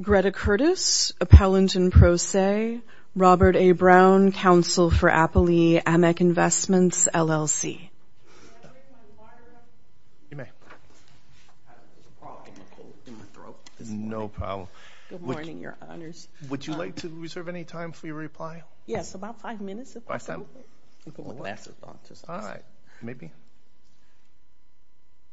Greta Curtis, Appellant in Pro Se, Robert A. Brown, Council for Appley, Amec Investments, LLC. You may. No problem. Good morning, your honors. Would you like to reserve any time for your reply? Yes, about five minutes if that's okay. All right. Maybe.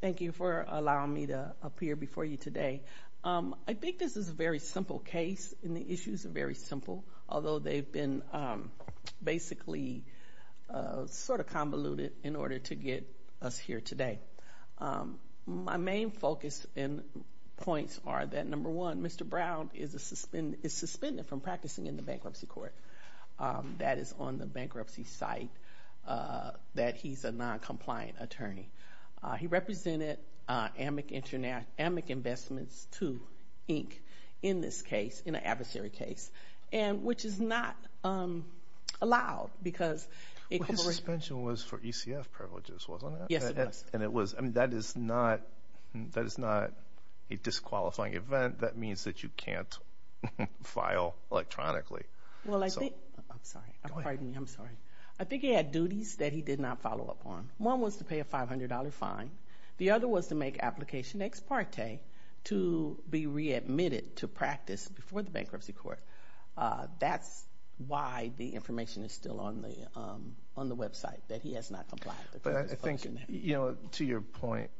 Thank you for allowing me to appear before you today. I think this is a very simple case, and the issues are very simple, although they've been basically sort of convoluted in order to get us here today. My main focus and points are that, number one, Mr. Brown is suspended from practicing in the bankruptcy court. That is on the bankruptcy site. That he's a non-compliant attorney. He represented Amec Investments, too, Inc., in this case, in an adversary case, which is not allowed. His suspension was for ECF privileges, wasn't it? Yes, it was. That is not a disqualifying event. That means that you can't file electronically. I'm sorry. Pardon me. I'm sorry. I think he had duties that he did not follow up on. One was to pay a $500 fine. The other was to make application ex parte to be readmitted to practice before the bankruptcy court. That's why the information is still on the website, that he has not complied. But I think, to your point,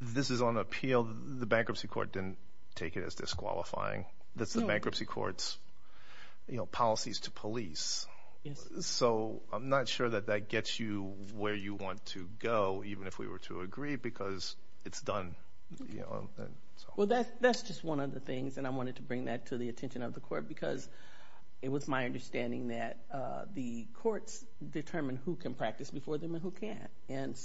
this is on appeal. The bankruptcy court didn't take it as disqualifying. That's the bankruptcy court's policies to police. I'm not sure that that gets you where you want to go, even if we were to agree, because it's done. That's just one of the things, and I wanted to bring that to the attention of the court, because it was my understanding that the courts determine who can practice before them and who can't.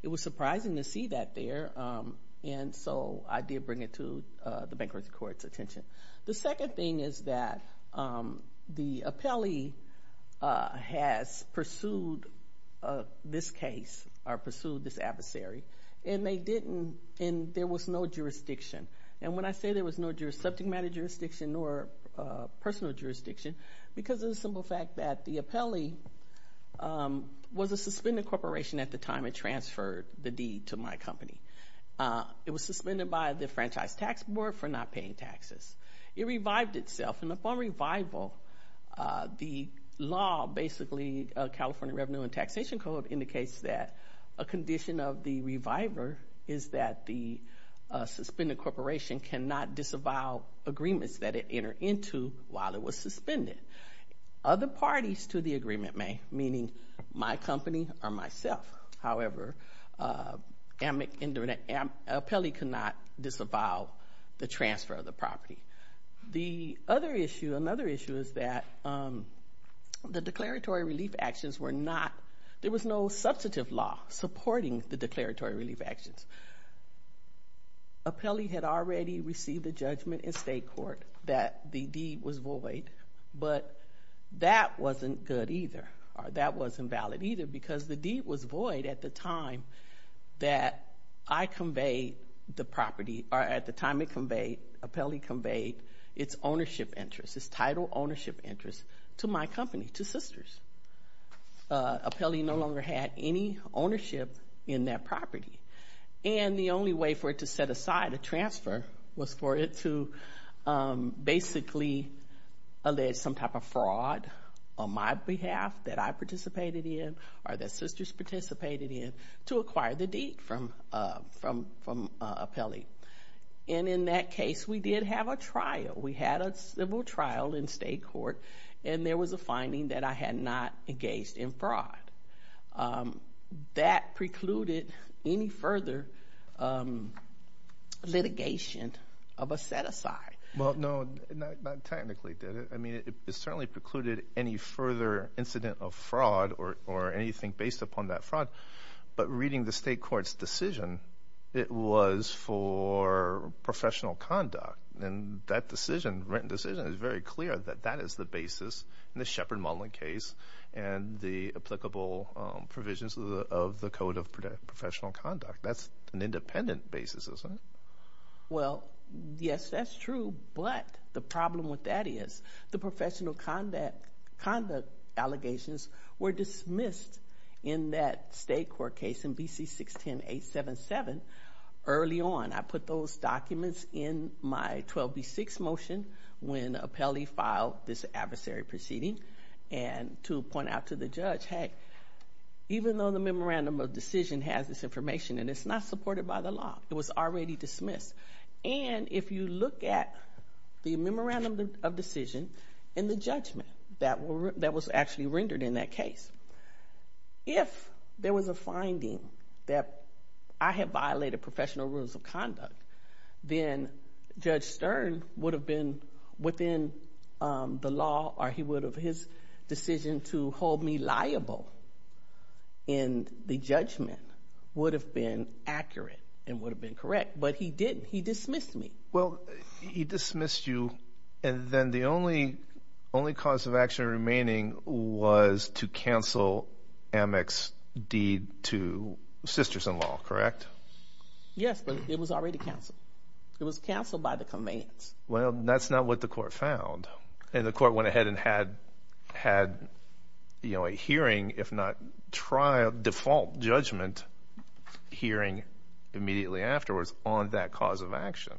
It was surprising to see that there. I did bring it to the bankruptcy court's attention. The second thing is that the appellee has pursued this case or pursued this adversary, and there was no jurisdiction. When I say there was no subject matter jurisdiction nor personal jurisdiction, because of the simple fact that the appellee was a suspended corporation at the time it transferred the deed to my company. It was suspended by the Franchise Tax Board for not paying taxes. It revived itself, and upon revival, the law, basically California Revenue and Taxation Code, indicates that a condition of the reviver is that the suspended corporation cannot disavow agreements that it entered into while it was suspended. Other parties to the agreement may, meaning my company or myself. However, an appellee cannot disavow the transfer of the property. Another issue is that the declaratory relief actions were not, there was no substantive law supporting the declaratory relief actions. Appellee had already received a judgment in state court that the deed was void, but that wasn't good either, or that wasn't valid either, because the deed was void at the time that I conveyed the property, or at the time it conveyed, appellee conveyed its ownership interest, its title ownership interest to my company, to Sisters. Appellee no longer had any ownership in that property, and the only way for it to set aside a transfer was for it to basically allege some type of fraud on my behalf that I participated in or that Sisters participated in to acquire the deed from appellee. And in that case, we did have a trial. We had a civil trial in state court, and there was a finding that I had not engaged in fraud. That precluded any further litigation of a set-aside. Well, no, not technically, did it? I mean, it certainly precluded any further incident of fraud or anything based upon that fraud, but reading the state court's decision, it was for professional conduct, and that decision, written decision, is very clear that that is the basis in the Shepard-Mullin case and the applicable provisions of the Code of Professional Conduct. That's an independent basis, isn't it? Well, yes, that's true, but the problem with that is the professional conduct allegations were dismissed in that state court case in BC 610-877 early on. And I put those documents in my 12B6 motion when appellee filed this adversary proceeding and to point out to the judge, hey, even though the memorandum of decision has this information and it's not supported by the law, it was already dismissed. And if you look at the memorandum of decision and the judgment that was actually rendered in that case, if there was a finding that I had violated professional rules of conduct, then Judge Stern would have been within the law or he would have his decision to hold me liable in the judgment would have been accurate and would have been correct, but he didn't. He dismissed me. Well, he dismissed you, and then the only cause of action remaining was to cancel Amec's deed to sister-in-law, correct? Yes, but it was already canceled. It was canceled by the commands. Well, that's not what the court found. And the court went ahead and had a hearing, if not trial, default judgment hearing immediately afterwards on that cause of action.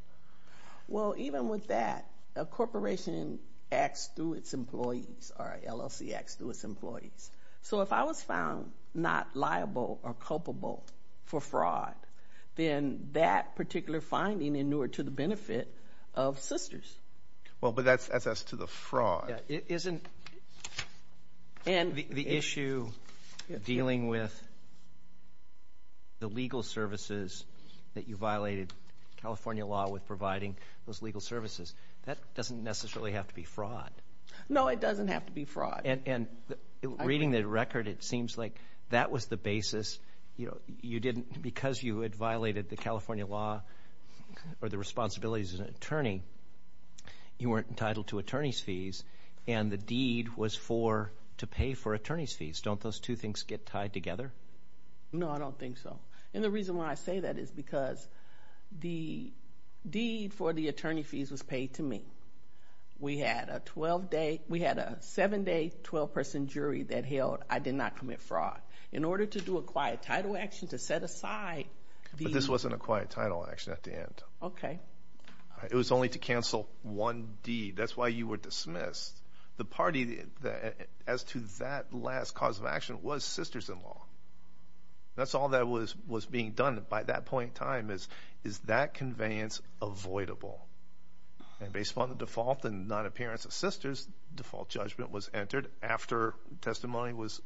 Well, even with that, a corporation acts through its employees or LLC acts through its employees. So if I was found not liable or culpable for fraud, then that particular finding inured to the benefit of sisters. Well, but that's as to the fraud. Isn't the issue dealing with the legal services that you violated California law with providing those legal services, that doesn't necessarily have to be fraud. No, it doesn't have to be fraud. And reading the record, it seems like that was the basis. You didn't, because you had violated the California law or the responsibilities as an attorney, you weren't entitled to attorney's fees, and the deed was to pay for attorney's fees. Don't those two things get tied together? No, I don't think so. And the reason why I say that is because the deed for the attorney fees was paid to me. We had a 7-day, 12-person jury that held I did not commit fraud. In order to do a quiet title action to set aside the— But this wasn't a quiet title action at the end. Okay. It was only to cancel one deed. That's why you were dismissed. The party as to that last cause of action was Sisters-in-Law. That's all that was being done by that point in time is, is that conveyance avoidable? And based upon the default and non-appearance of Sisters, default judgment was entered after testimony was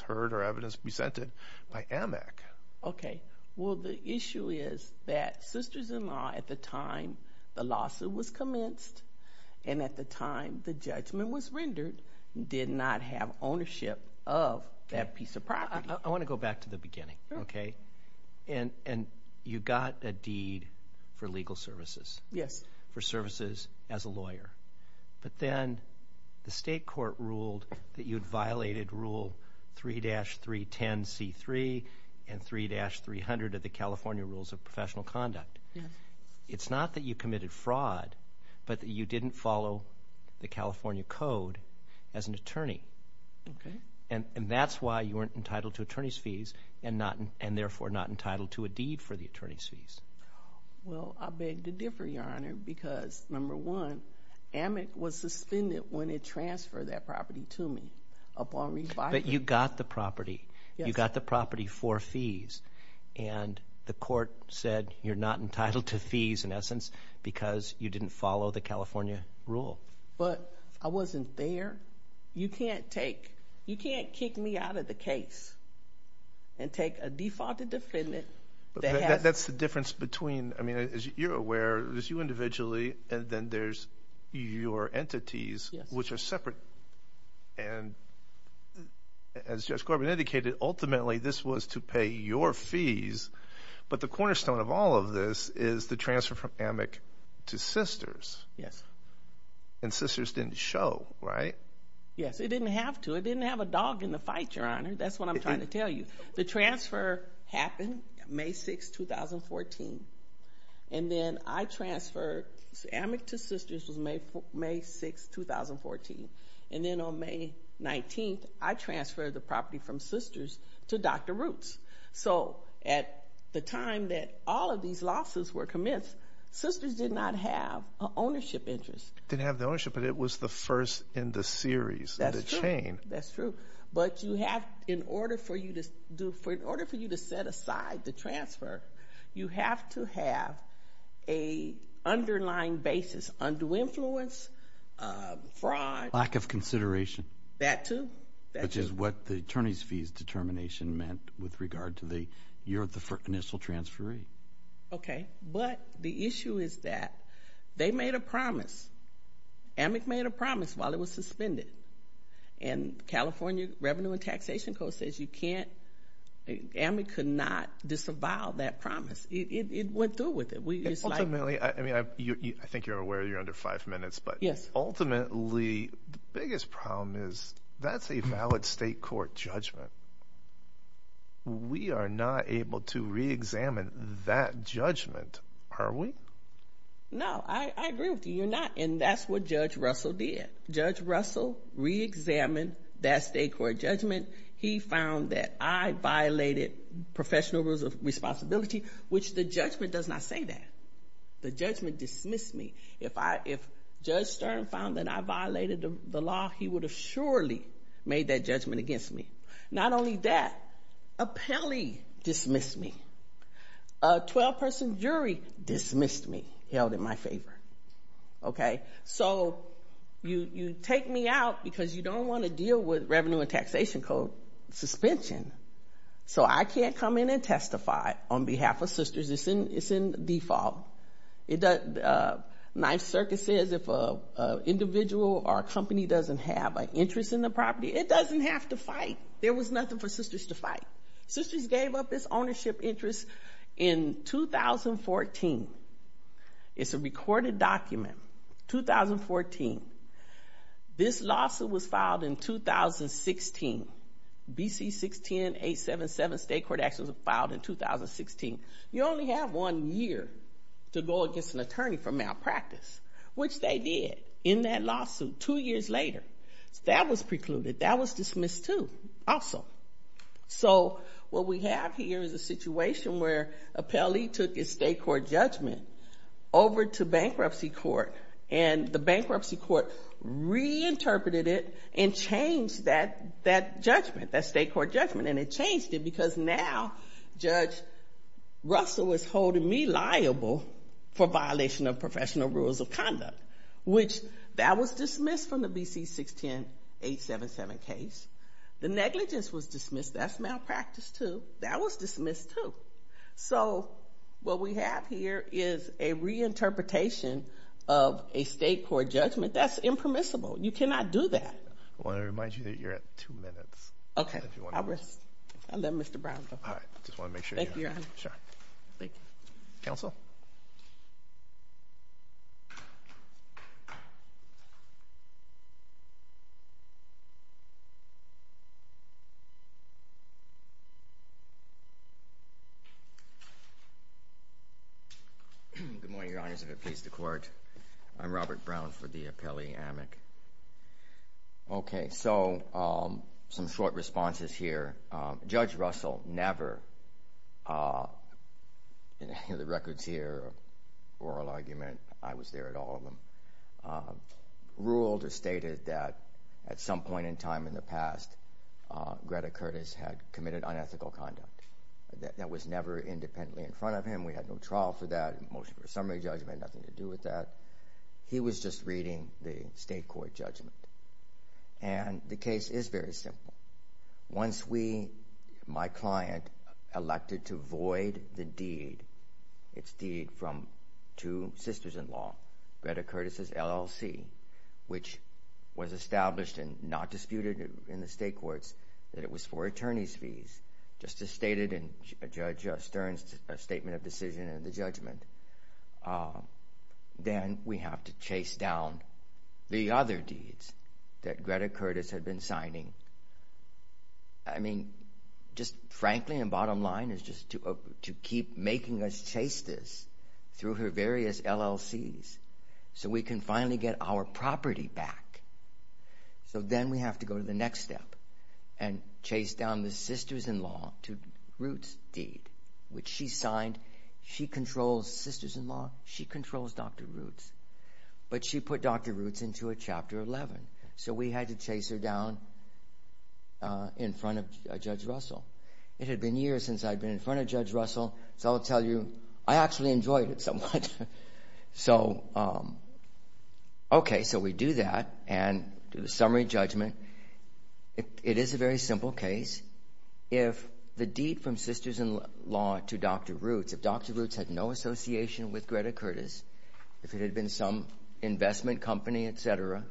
heard or evidence presented by Amec. Okay. Well, the issue is that Sisters-in-Law, at the time the lawsuit was commenced and at the time the judgment was rendered, did not have ownership of that piece of property. I want to go back to the beginning, okay? And you got a deed for legal services. Yes. For services as a lawyer. But then the state court ruled that you had violated Rule 3-310C3 and 3-300 of the California Rules of Professional Conduct. Yes. It's not that you committed fraud, but that you didn't follow the California Code as an attorney. Okay. And that's why you weren't entitled to attorney's fees and therefore not entitled to a deed for the attorney's fees. Well, I beg to differ, Your Honor, because, number one, Amec was suspended when it transferred that property to me upon revival. But you got the property. Yes. You got the property for fees. And the court said you're not entitled to fees in essence because you didn't follow the California rule. But I wasn't there. You can't take, you can't kick me out of the case and take a defaulted defendant that has. That's the difference between, I mean, as you're aware, there's you individually and then there's your entities, which are separate. And as Judge Corbin indicated, ultimately this was to pay your fees. But the cornerstone of all of this is the transfer from Amec to Sisters. Yes. And Sisters didn't show, right? Yes, it didn't have to. It didn't have a dog in the fight, Your Honor. That's what I'm trying to tell you. The transfer happened May 6, 2014. And then I transferred Amec to Sisters was May 6, 2014. And then on May 19th, I transferred the property from Sisters to Dr. Roots. So at the time that all of these losses were commenced, Sisters did not have an ownership interest. Didn't have the ownership, but it was the first in the series, the chain. That's true. But in order for you to set aside the transfer, you have to have an underlying basis, undue influence, fraud. Lack of consideration. That too. Which is what the attorney's fees determination meant with regard to the initial transfer rate. Okay. But the issue is that they made a promise. Amec made a promise while it was suspended. And California Revenue and Taxation Code says you can't, Amec could not disavow that promise. It went through with it. Ultimately, I think you're aware you're under five minutes. Yes. But ultimately, the biggest problem is that's a valid state court judgment. We are not able to reexamine that judgment, are we? No. I agree with you. You're not. And that's what Judge Russell did. Judge Russell reexamined that state court judgment. He found that I violated professional responsibility, which the judgment does not say that. The judgment dismissed me. If Judge Stern found that I violated the law, he would have surely made that judgment against me. Not only that, a penalty dismissed me. A 12-person jury dismissed me, held in my favor. Okay. So you take me out because you don't want to deal with Revenue and Taxation Code suspension. So I can't come in and testify on behalf of Sisters. It's in default. Ninth Circuit says if an individual or a company doesn't have an interest in the property, it doesn't have to fight. There was nothing for Sisters to fight. Sisters gave up its ownership interest in 2014. It's a recorded document, 2014. This lawsuit was filed in 2016. B.C. 610-877, state court actions filed in 2016. You only have one year to go against an attorney for malpractice, which they did in that lawsuit two years later. That was precluded. That was dismissed, too, also. So what we have here is a situation where an appellee took his state court judgment over to bankruptcy court, and the bankruptcy court reinterpreted it and changed that judgment, that state court judgment, and it changed it because now Judge Russell was holding me liable for violation of professional rules of conduct, which that was dismissed from the B.C. 610-877 case. The negligence was dismissed. That's malpractice, too. That was dismissed, too. So what we have here is a reinterpretation of a state court judgment that's impermissible. You cannot do that. I want to remind you that you're at two minutes. Okay. I'll rest. I'll let Mr. Brown talk. All right. I just want to make sure you're on. Sure. Thank you. Counsel? Good morning, Your Honors. I have a case to court. I'm Robert Brown for the appellee amic. Okay. So some short responses here. Judge Russell never, in any of the records here, oral argument, I was there at all of them, ruled or stated that at some point in time in the past, Greta Curtis had committed unethical conduct. That was never independently in front of him. We had no trial for that. The motion for summary judgment had nothing to do with that. He was just reading the state court judgment. And the case is very simple. Once we, my client, elected to void the deed, its deed from two sisters-in-law, Greta Curtis' LLC, which was established and not disputed in the state courts, that it was for attorney's fees, just as stated in Judge Stern's statement of decision in the judgment. Then we have to chase down the other deeds that Greta Curtis had been signing. I mean, just frankly, the bottom line is just to keep making us chase this through her various LLCs so we can finally get our property back. So then we have to go to the next step. And chase down the sisters-in-law to Roots' deed, which she signed. She controls sisters-in-law. She controls Dr. Roots. But she put Dr. Roots into a Chapter 11. So we had to chase her down in front of Judge Russell. It had been years since I'd been in front of Judge Russell, so I'll tell you I actually enjoyed it somewhat. Okay, so we do that and do the summary judgment. It is a very simple case. If the deed from sisters-in-law to Dr. Roots, if Dr. Roots had no association with Greta Curtis, if it had been some investment company, et cetera,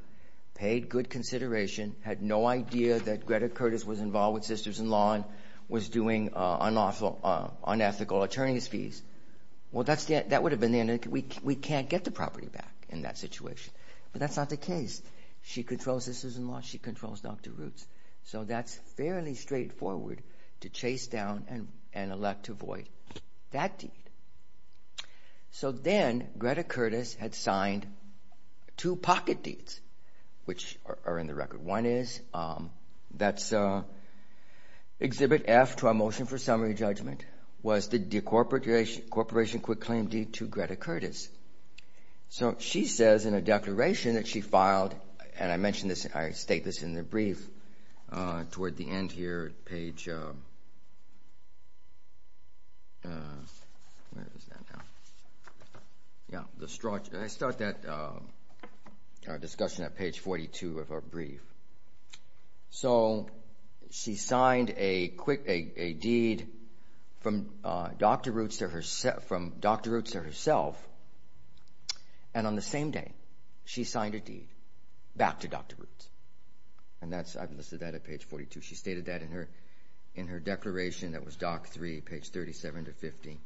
paid good consideration, had no idea that Greta Curtis was involved with sisters-in-law and was doing unethical attorney's fees, well, that would have been the end of it. We can't get the property back in that situation. But that's not the case. She controls sisters-in-law. She controls Dr. Roots. So that's fairly straightforward to chase down and elect to void that deed. So then Greta Curtis had signed two pocket deeds, which are in the record. One is that's Exhibit F to our motion for summary judgment was the decorporation quick claim deed to Greta Curtis. So she says in a declaration that she filed, and I mention this, I state this in the brief toward the end here at page 42 of our brief. So she signed a deed from Dr. Roots to herself, and on the same day she signed a deed back to Dr. Roots. And I've listed that at page 42. She stated that in her declaration that was Doc 3, page 37 to 50.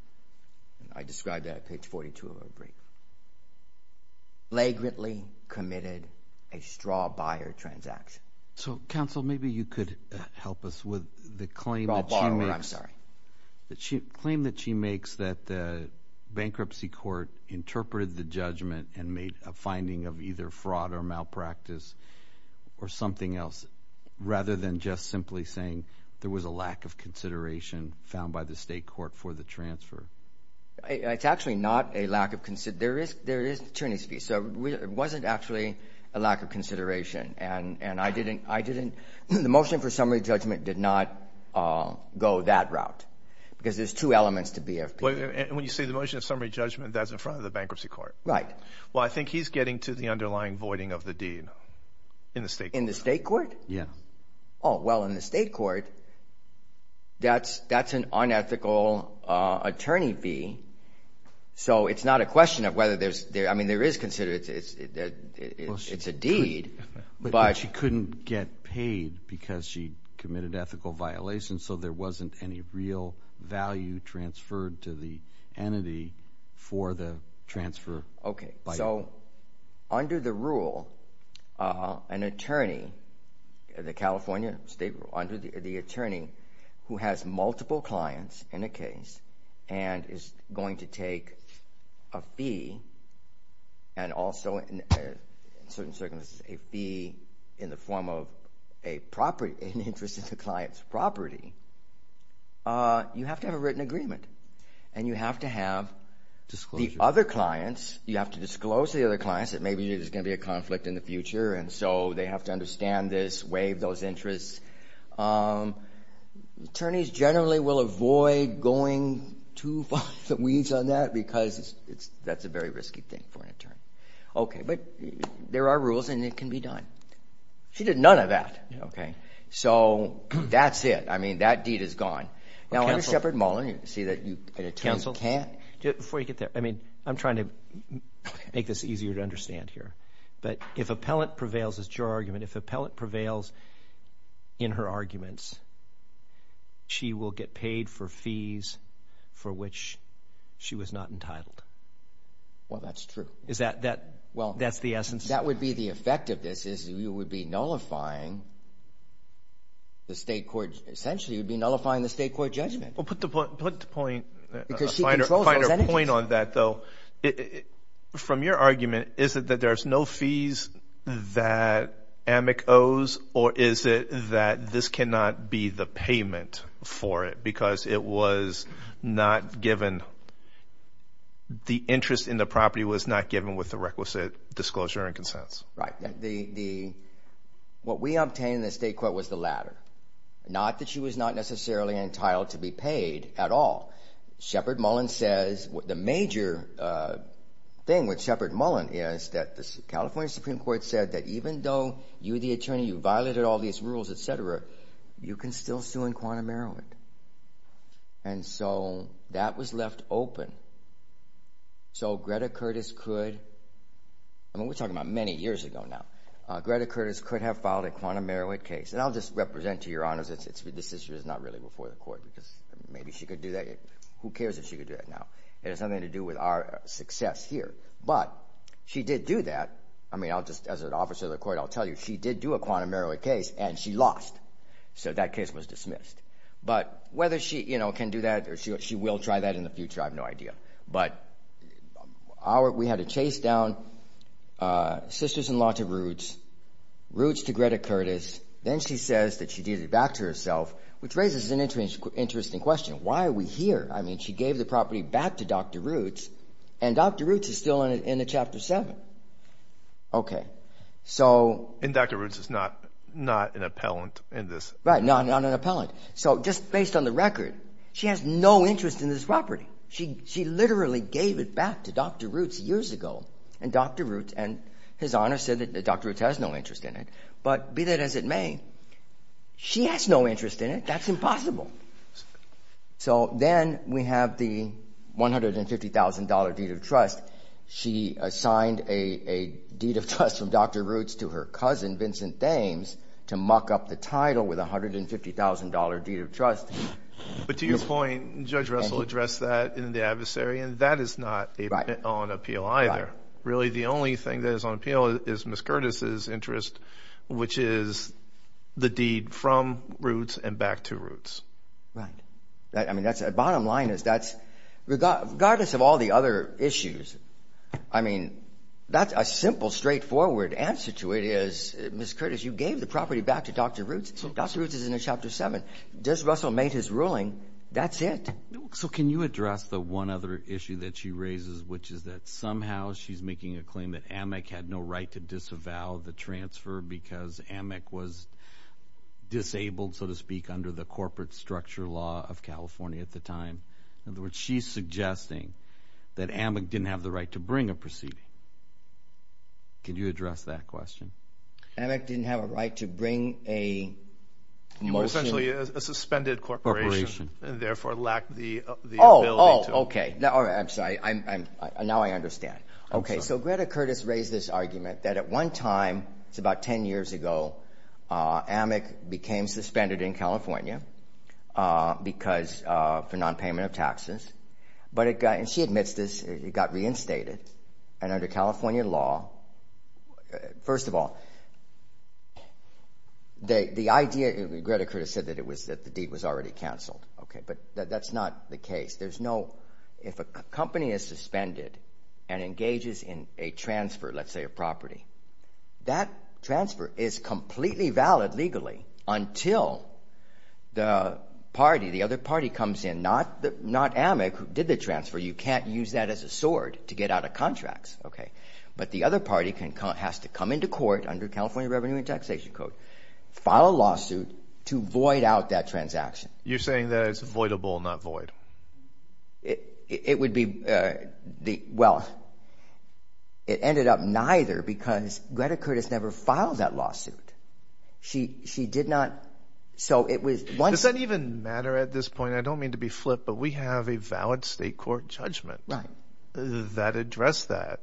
I described that at page 42 of our brief. She flagrantly committed a straw-buyer transaction. So, counsel, maybe you could help us with the claim that she makes. I'm sorry. The claim that she makes that the bankruptcy court interpreted the judgment and made a finding of either fraud or malpractice or something else rather than just simply saying there was a lack of consideration found by the state court for the transfer. It's actually not a lack of consideration. There is an attorney's fee. So it wasn't actually a lack of consideration, and I didn't. The motion for summary judgment did not go that route because there's two elements to BFP. When you say the motion of summary judgment, that's in front of the bankruptcy court. Right. Well, I think he's getting to the underlying voiding of the deed in the state court. In the state court? Yeah. Oh, well, in the state court, that's an unethical attorney fee. So it's not a question of whether there's – I mean, there is consideration that it's a deed. But she couldn't get paid because she committed ethical violations, so there wasn't any real value transferred to the entity for the transfer. Okay. So under the rule, an attorney, the California state rule, under the attorney who has multiple clients in a case and is going to take a fee and also in certain circumstances a fee in the form of an interest in the client's property, you have to have a written agreement, and you have to have the other clients – you have to disclose to the other clients that maybe there's going to be a conflict in the future, and so they have to understand this, waive those interests. Attorneys generally will avoid going too far in the weeds on that because that's a very risky thing for an attorney. Okay. But there are rules, and it can be done. She did none of that. Okay. So that's it. I mean, that deed is gone. Now, under Shepard Mullen, you see that an attorney can't… Counsel, before you get there, I mean, I'm trying to make this easier to understand here, but if appellant prevails as juror argument, if appellant prevails in her arguments, she will get paid for fees for which she was not entitled. Well, that's true. Is that the essence? That would be the effect of this is you would be nullifying the state court. Essentially, you'd be nullifying the state court judgment. Well, put the point… Because she controls those entities. …a finer point on that, though. From your argument, is it that there's no fees that AMIC owes, or is it that this cannot be the payment for it because it was not given, the interest in the property was not given with the requisite disclosure and consents? Right. What we obtained in the state court was the latter, not that she was not necessarily entitled to be paid at all. Shepard Mullen says… The major thing with Shepard Mullen is that the California Supreme Court said that even though you, the attorney, violated all these rules, et cetera, you can still sue in quantum error. And so that was left open. So Greta Curtis could… I mean, we're talking about many years ago now. Greta Curtis could have filed a quantum error case. And I'll just represent, to your honors, this issue is not really before the court because maybe she could do that. Who cares if she could do that now? It has nothing to do with our success here. But she did do that. I mean, as an officer of the court, I'll tell you, she did do a quantum error case, and she lost, so that case was dismissed. But whether she can do that or she will try that in the future, I have no idea. But we had a chase down. Sisters-in-law to Roots. Roots to Greta Curtis. Then she says that she did it back to herself, which raises an interesting question. Why are we here? I mean, she gave the property back to Dr. Roots, and Dr. Roots is still in Chapter 7. Okay, so… And Dr. Roots is not an appellant in this. Right, not an appellant. So just based on the record, she has no interest in this property. She literally gave it back to Dr. Roots years ago. And Dr. Roots and his honor said that Dr. Roots has no interest in it. But be that as it may, she has no interest in it. That's impossible. So then we have the $150,000 deed of trust. She assigned a deed of trust from Dr. Roots to her cousin, Vincent Thames, to muck up the title with a $150,000 deed of trust. But to your point, Judge Russell addressed that in the adversary, and that is not on appeal either. Really, the only thing that is on appeal is Ms. Curtis' interest, which is the deed from Roots and back to Roots. Right. I mean, that's a bottom line is that regardless of all the other issues, I mean, that's a simple, straightforward answer to it is, Ms. Curtis, you gave the property back to Dr. Roots, and Dr. Roots is in Chapter 7. Just Russell made his ruling. That's it. So can you address the one other issue that she raises, which is that somehow she's making a claim that AMIC had no right to disavow the transfer because AMIC was disabled, so to speak, under the corporate structure law of California at the time. In other words, she's suggesting that AMIC didn't have the right to bring a proceeding. Can you address that question? AMIC didn't have a right to bring a motion. It was essentially a suspended corporation and therefore lacked the ability to. Oh, okay. I'm sorry. Now I understand. Okay. So Greta Curtis raised this argument that at one time, it's about 10 years ago, AMIC became suspended in California for nonpayment of taxes, and she admits this. It got reinstated. And under California law, first of all, Greta Curtis said that the deed was already canceled. But that's not the case. If a company is suspended and engages in a transfer, let's say, of property, that transfer is completely valid legally until the other party comes in, not AMIC, who did the transfer. You can't use that as a sword to get out of contracts. But the other party has to come into court under California Revenue and Taxation Code, file a lawsuit to void out that transaction. You're saying that it's voidable, not void. It would be the – well, it ended up neither because Greta Curtis never filed that lawsuit. She did not – so it was – Does that even matter at this point? I mean, I don't mean to be flip, but we have a valid state court judgment that addressed that.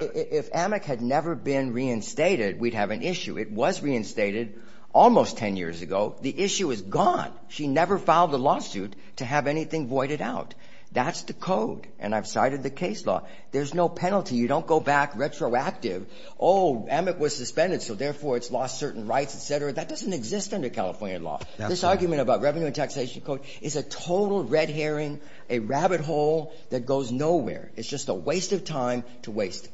If AMIC had never been reinstated, we'd have an issue. It was reinstated almost 10 years ago. The issue is gone. She never filed a lawsuit to have anything voided out. That's the code, and I've cited the case law. There's no penalty. You don't go back retroactive. Oh, AMIC was suspended, so therefore it's lost certain rights, et cetera. That doesn't exist under California law. This argument about Revenue and Taxation Code is a total red herring, a rabbit hole that goes nowhere. It's just a waste of time to waste.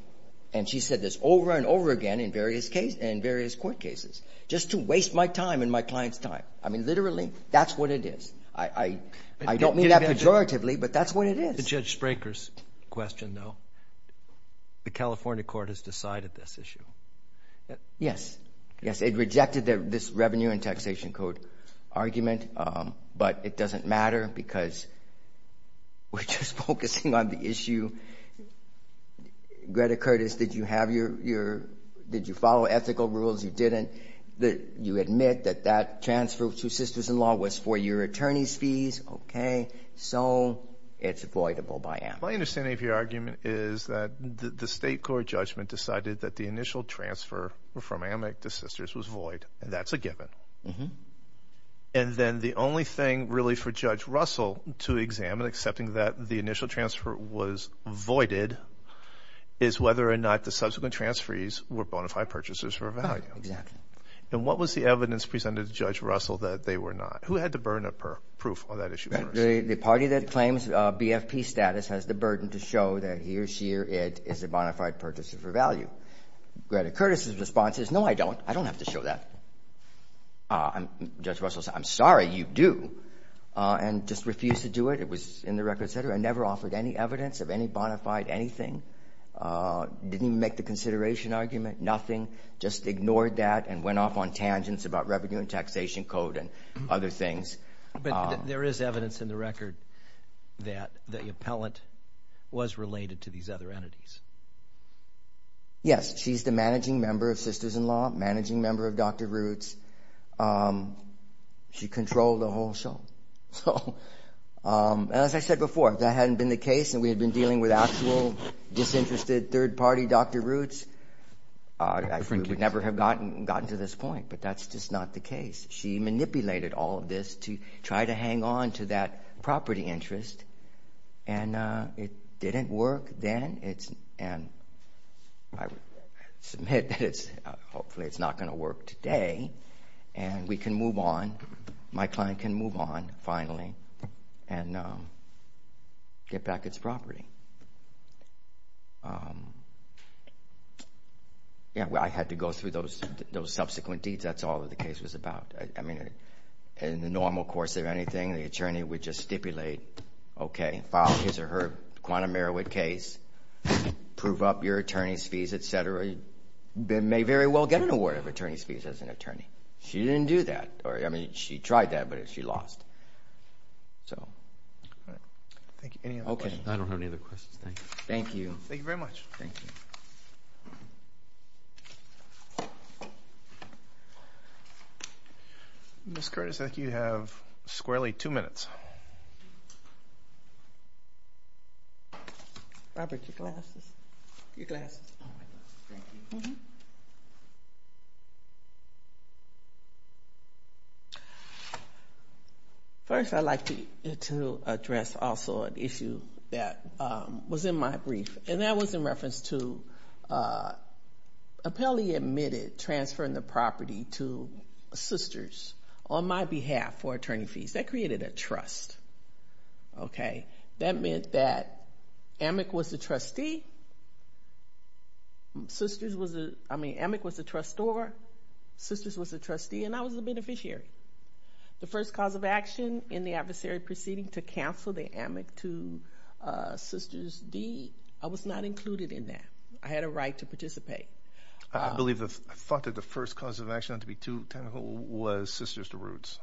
And she's said this over and over again in various court cases, just to waste my time and my client's time. I mean, literally, that's what it is. I don't mean that pejoratively, but that's what it is. The Judge Spraker's question, though. The California court has decided this issue. Yes. Yes, it rejected this Revenue and Taxation Code argument, but it doesn't matter because we're just focusing on the issue. Greta Curtis, did you follow ethical rules? You didn't. You admit that that transfer to Sisters-in-Law was for your attorney's fees. Okay, so it's voidable by AMIC. My understanding of your argument is that the state court judgment decided that the initial transfer from AMIC to Sisters was void, and that's a given. And then the only thing really for Judge Russell to examine, excepting that the initial transfer was voided, is whether or not the subsequent transferees were bona fide purchasers for a value. Exactly. And what was the evidence presented to Judge Russell that they were not? Who had to burn a proof on that issue first? The party that claims BFP status has the burden to show that he or she or it is a bona fide purchaser for value. Greta Curtis' response is, no, I don't. I don't have to show that. Judge Russell said, I'm sorry, you do. And just refused to do it. It was in the record setter and never offered any evidence of any bona fide anything. Didn't even make the consideration argument, nothing. Just ignored that and went off on tangents about Revenue and Taxation Code and other things. But there is evidence in the record that the appellant was related to these other entities. Yes. She's the managing member of Sisters-in-Law, managing member of Dr. Roots. She controlled the whole show. And as I said before, if that hadn't been the case and we had been dealing with actual disinterested third party Dr. Roots, we would never have gotten to this point. But that's just not the case. She manipulated all of this to try to hang on to that property interest. And it didn't work then. And I submit that hopefully it's not going to work today. And we can move on. My client can move on finally and get back its property. I had to go through those subsequent deeds. That's all the case was about. In the normal course of anything, the attorney would just stipulate, okay, file his or her quantum Merowith case, prove up your attorney's fees, et cetera. They may very well get an award of attorney's fees as an attorney. She didn't do that. I mean, she tried that, but she lost. Any other questions? I don't have any other questions. Thank you. Thank you very much. Thank you. Ms. Curtis, I think you have squarely two minutes. Robert, your glasses. First, I'd like to address also an issue that was in my brief, and that was in reference to Appellee admitted transferring the property to Sisters on my behalf for attorney fees. That created a trust, okay? That meant that AMIC was the trustee. Sisters was the ‑‑ I mean, AMIC was the trustor. Sisters was the trustee, and I was the beneficiary. The first cause of action in the adversary proceeding to cancel the AMIC to Sisters deed, I was not included in that. I had a right to participate. I believe the first cause of action was Sisters to Roots.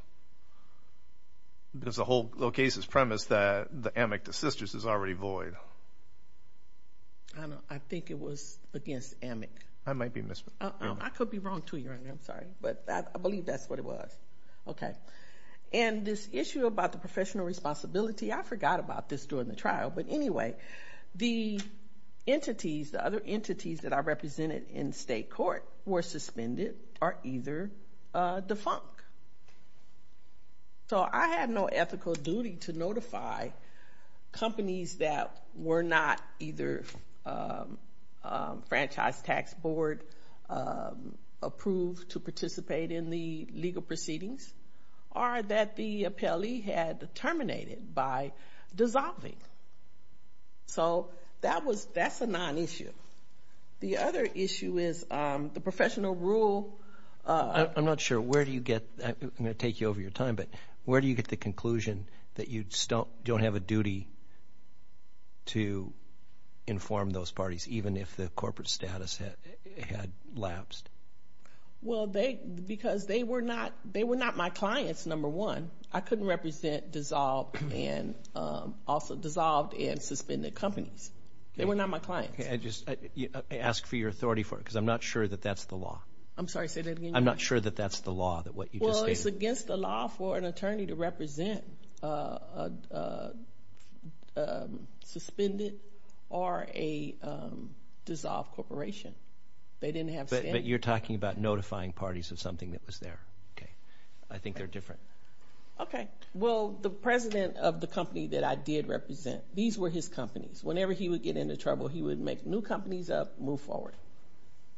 There's a whole case's premise that the AMIC to Sisters is already void. I think it was against AMIC. I could be wrong, too, Your Honor. I'm sorry. But I believe that's what it was. And this issue about the professional responsibility, I forgot about this during the trial. But anyway, the entities, the other entities that are represented in state court were suspended or either defunct. So I had no ethical duty to notify companies that were not either franchise tax board approved to participate in the legal proceedings or that the appellee had terminated by dissolving. So that's a nonissue. The other issue is the professional rule. I'm not sure. Where do you get that? I'm going to take you over your time, but where do you get the conclusion that you don't have a duty to inform those parties, even if the corporate status had lapsed? Well, because they were not my clients, number one. I couldn't represent dissolved and suspended companies. They were not my clients. I ask for your authority for it because I'm not sure that that's the law. I'm sorry, say that again. I'm not sure that that's the law, that what you just stated. Well, it's against the law for an attorney to represent a suspended or a dissolved corporation. They didn't have status. But you're talking about notifying parties of something that was there. Okay. I think they're different. Okay. Well, the president of the company that I did represent, these were his companies. Whenever he would get into trouble, he would make new companies up, move forward.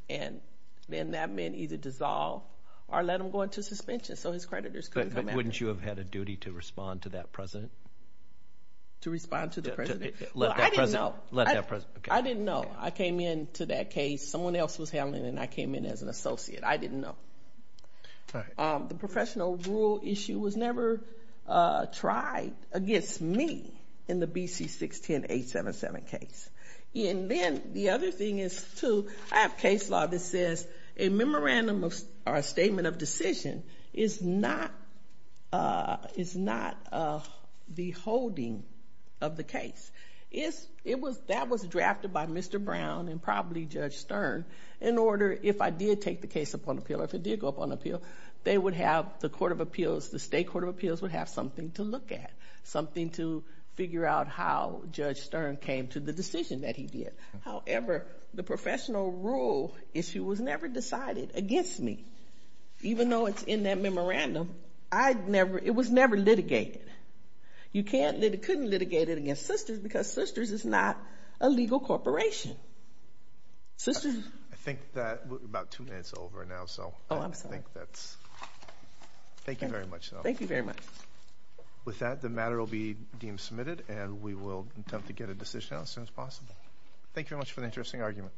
And then that meant either dissolve or let him go into suspension so his creditors couldn't come after him. But wouldn't you have had a duty to respond to that president? To respond to the president? Well, I didn't know. Let that president. I didn't know. I came in to that case. Someone else was handling it, and I came in as an associate. I didn't know. All right. The professional rule issue was never tried against me in the BC 610-877 case. And then the other thing is, too, I have case law that says a memorandum or a statement of decision is not the holding of the case. That was drafted by Mr. Brown and probably Judge Stern in order, if I did take the case upon appeal or if it did go upon appeal, they would have the court of appeals, the state court of appeals, would have something to look at, something to figure out how Judge Stern came to the decision that he did. However, the professional rule issue was never decided against me. Even though it's in that memorandum, it was never litigated. You couldn't litigate it against Sisters because Sisters is not a legal corporation. I think we're about two minutes over now. Oh, I'm sorry. Thank you very much, though. Thank you very much. With that, the matter will be deemed submitted, and we will attempt to get a decision out as soon as possible. Thank you very much for the interesting argument.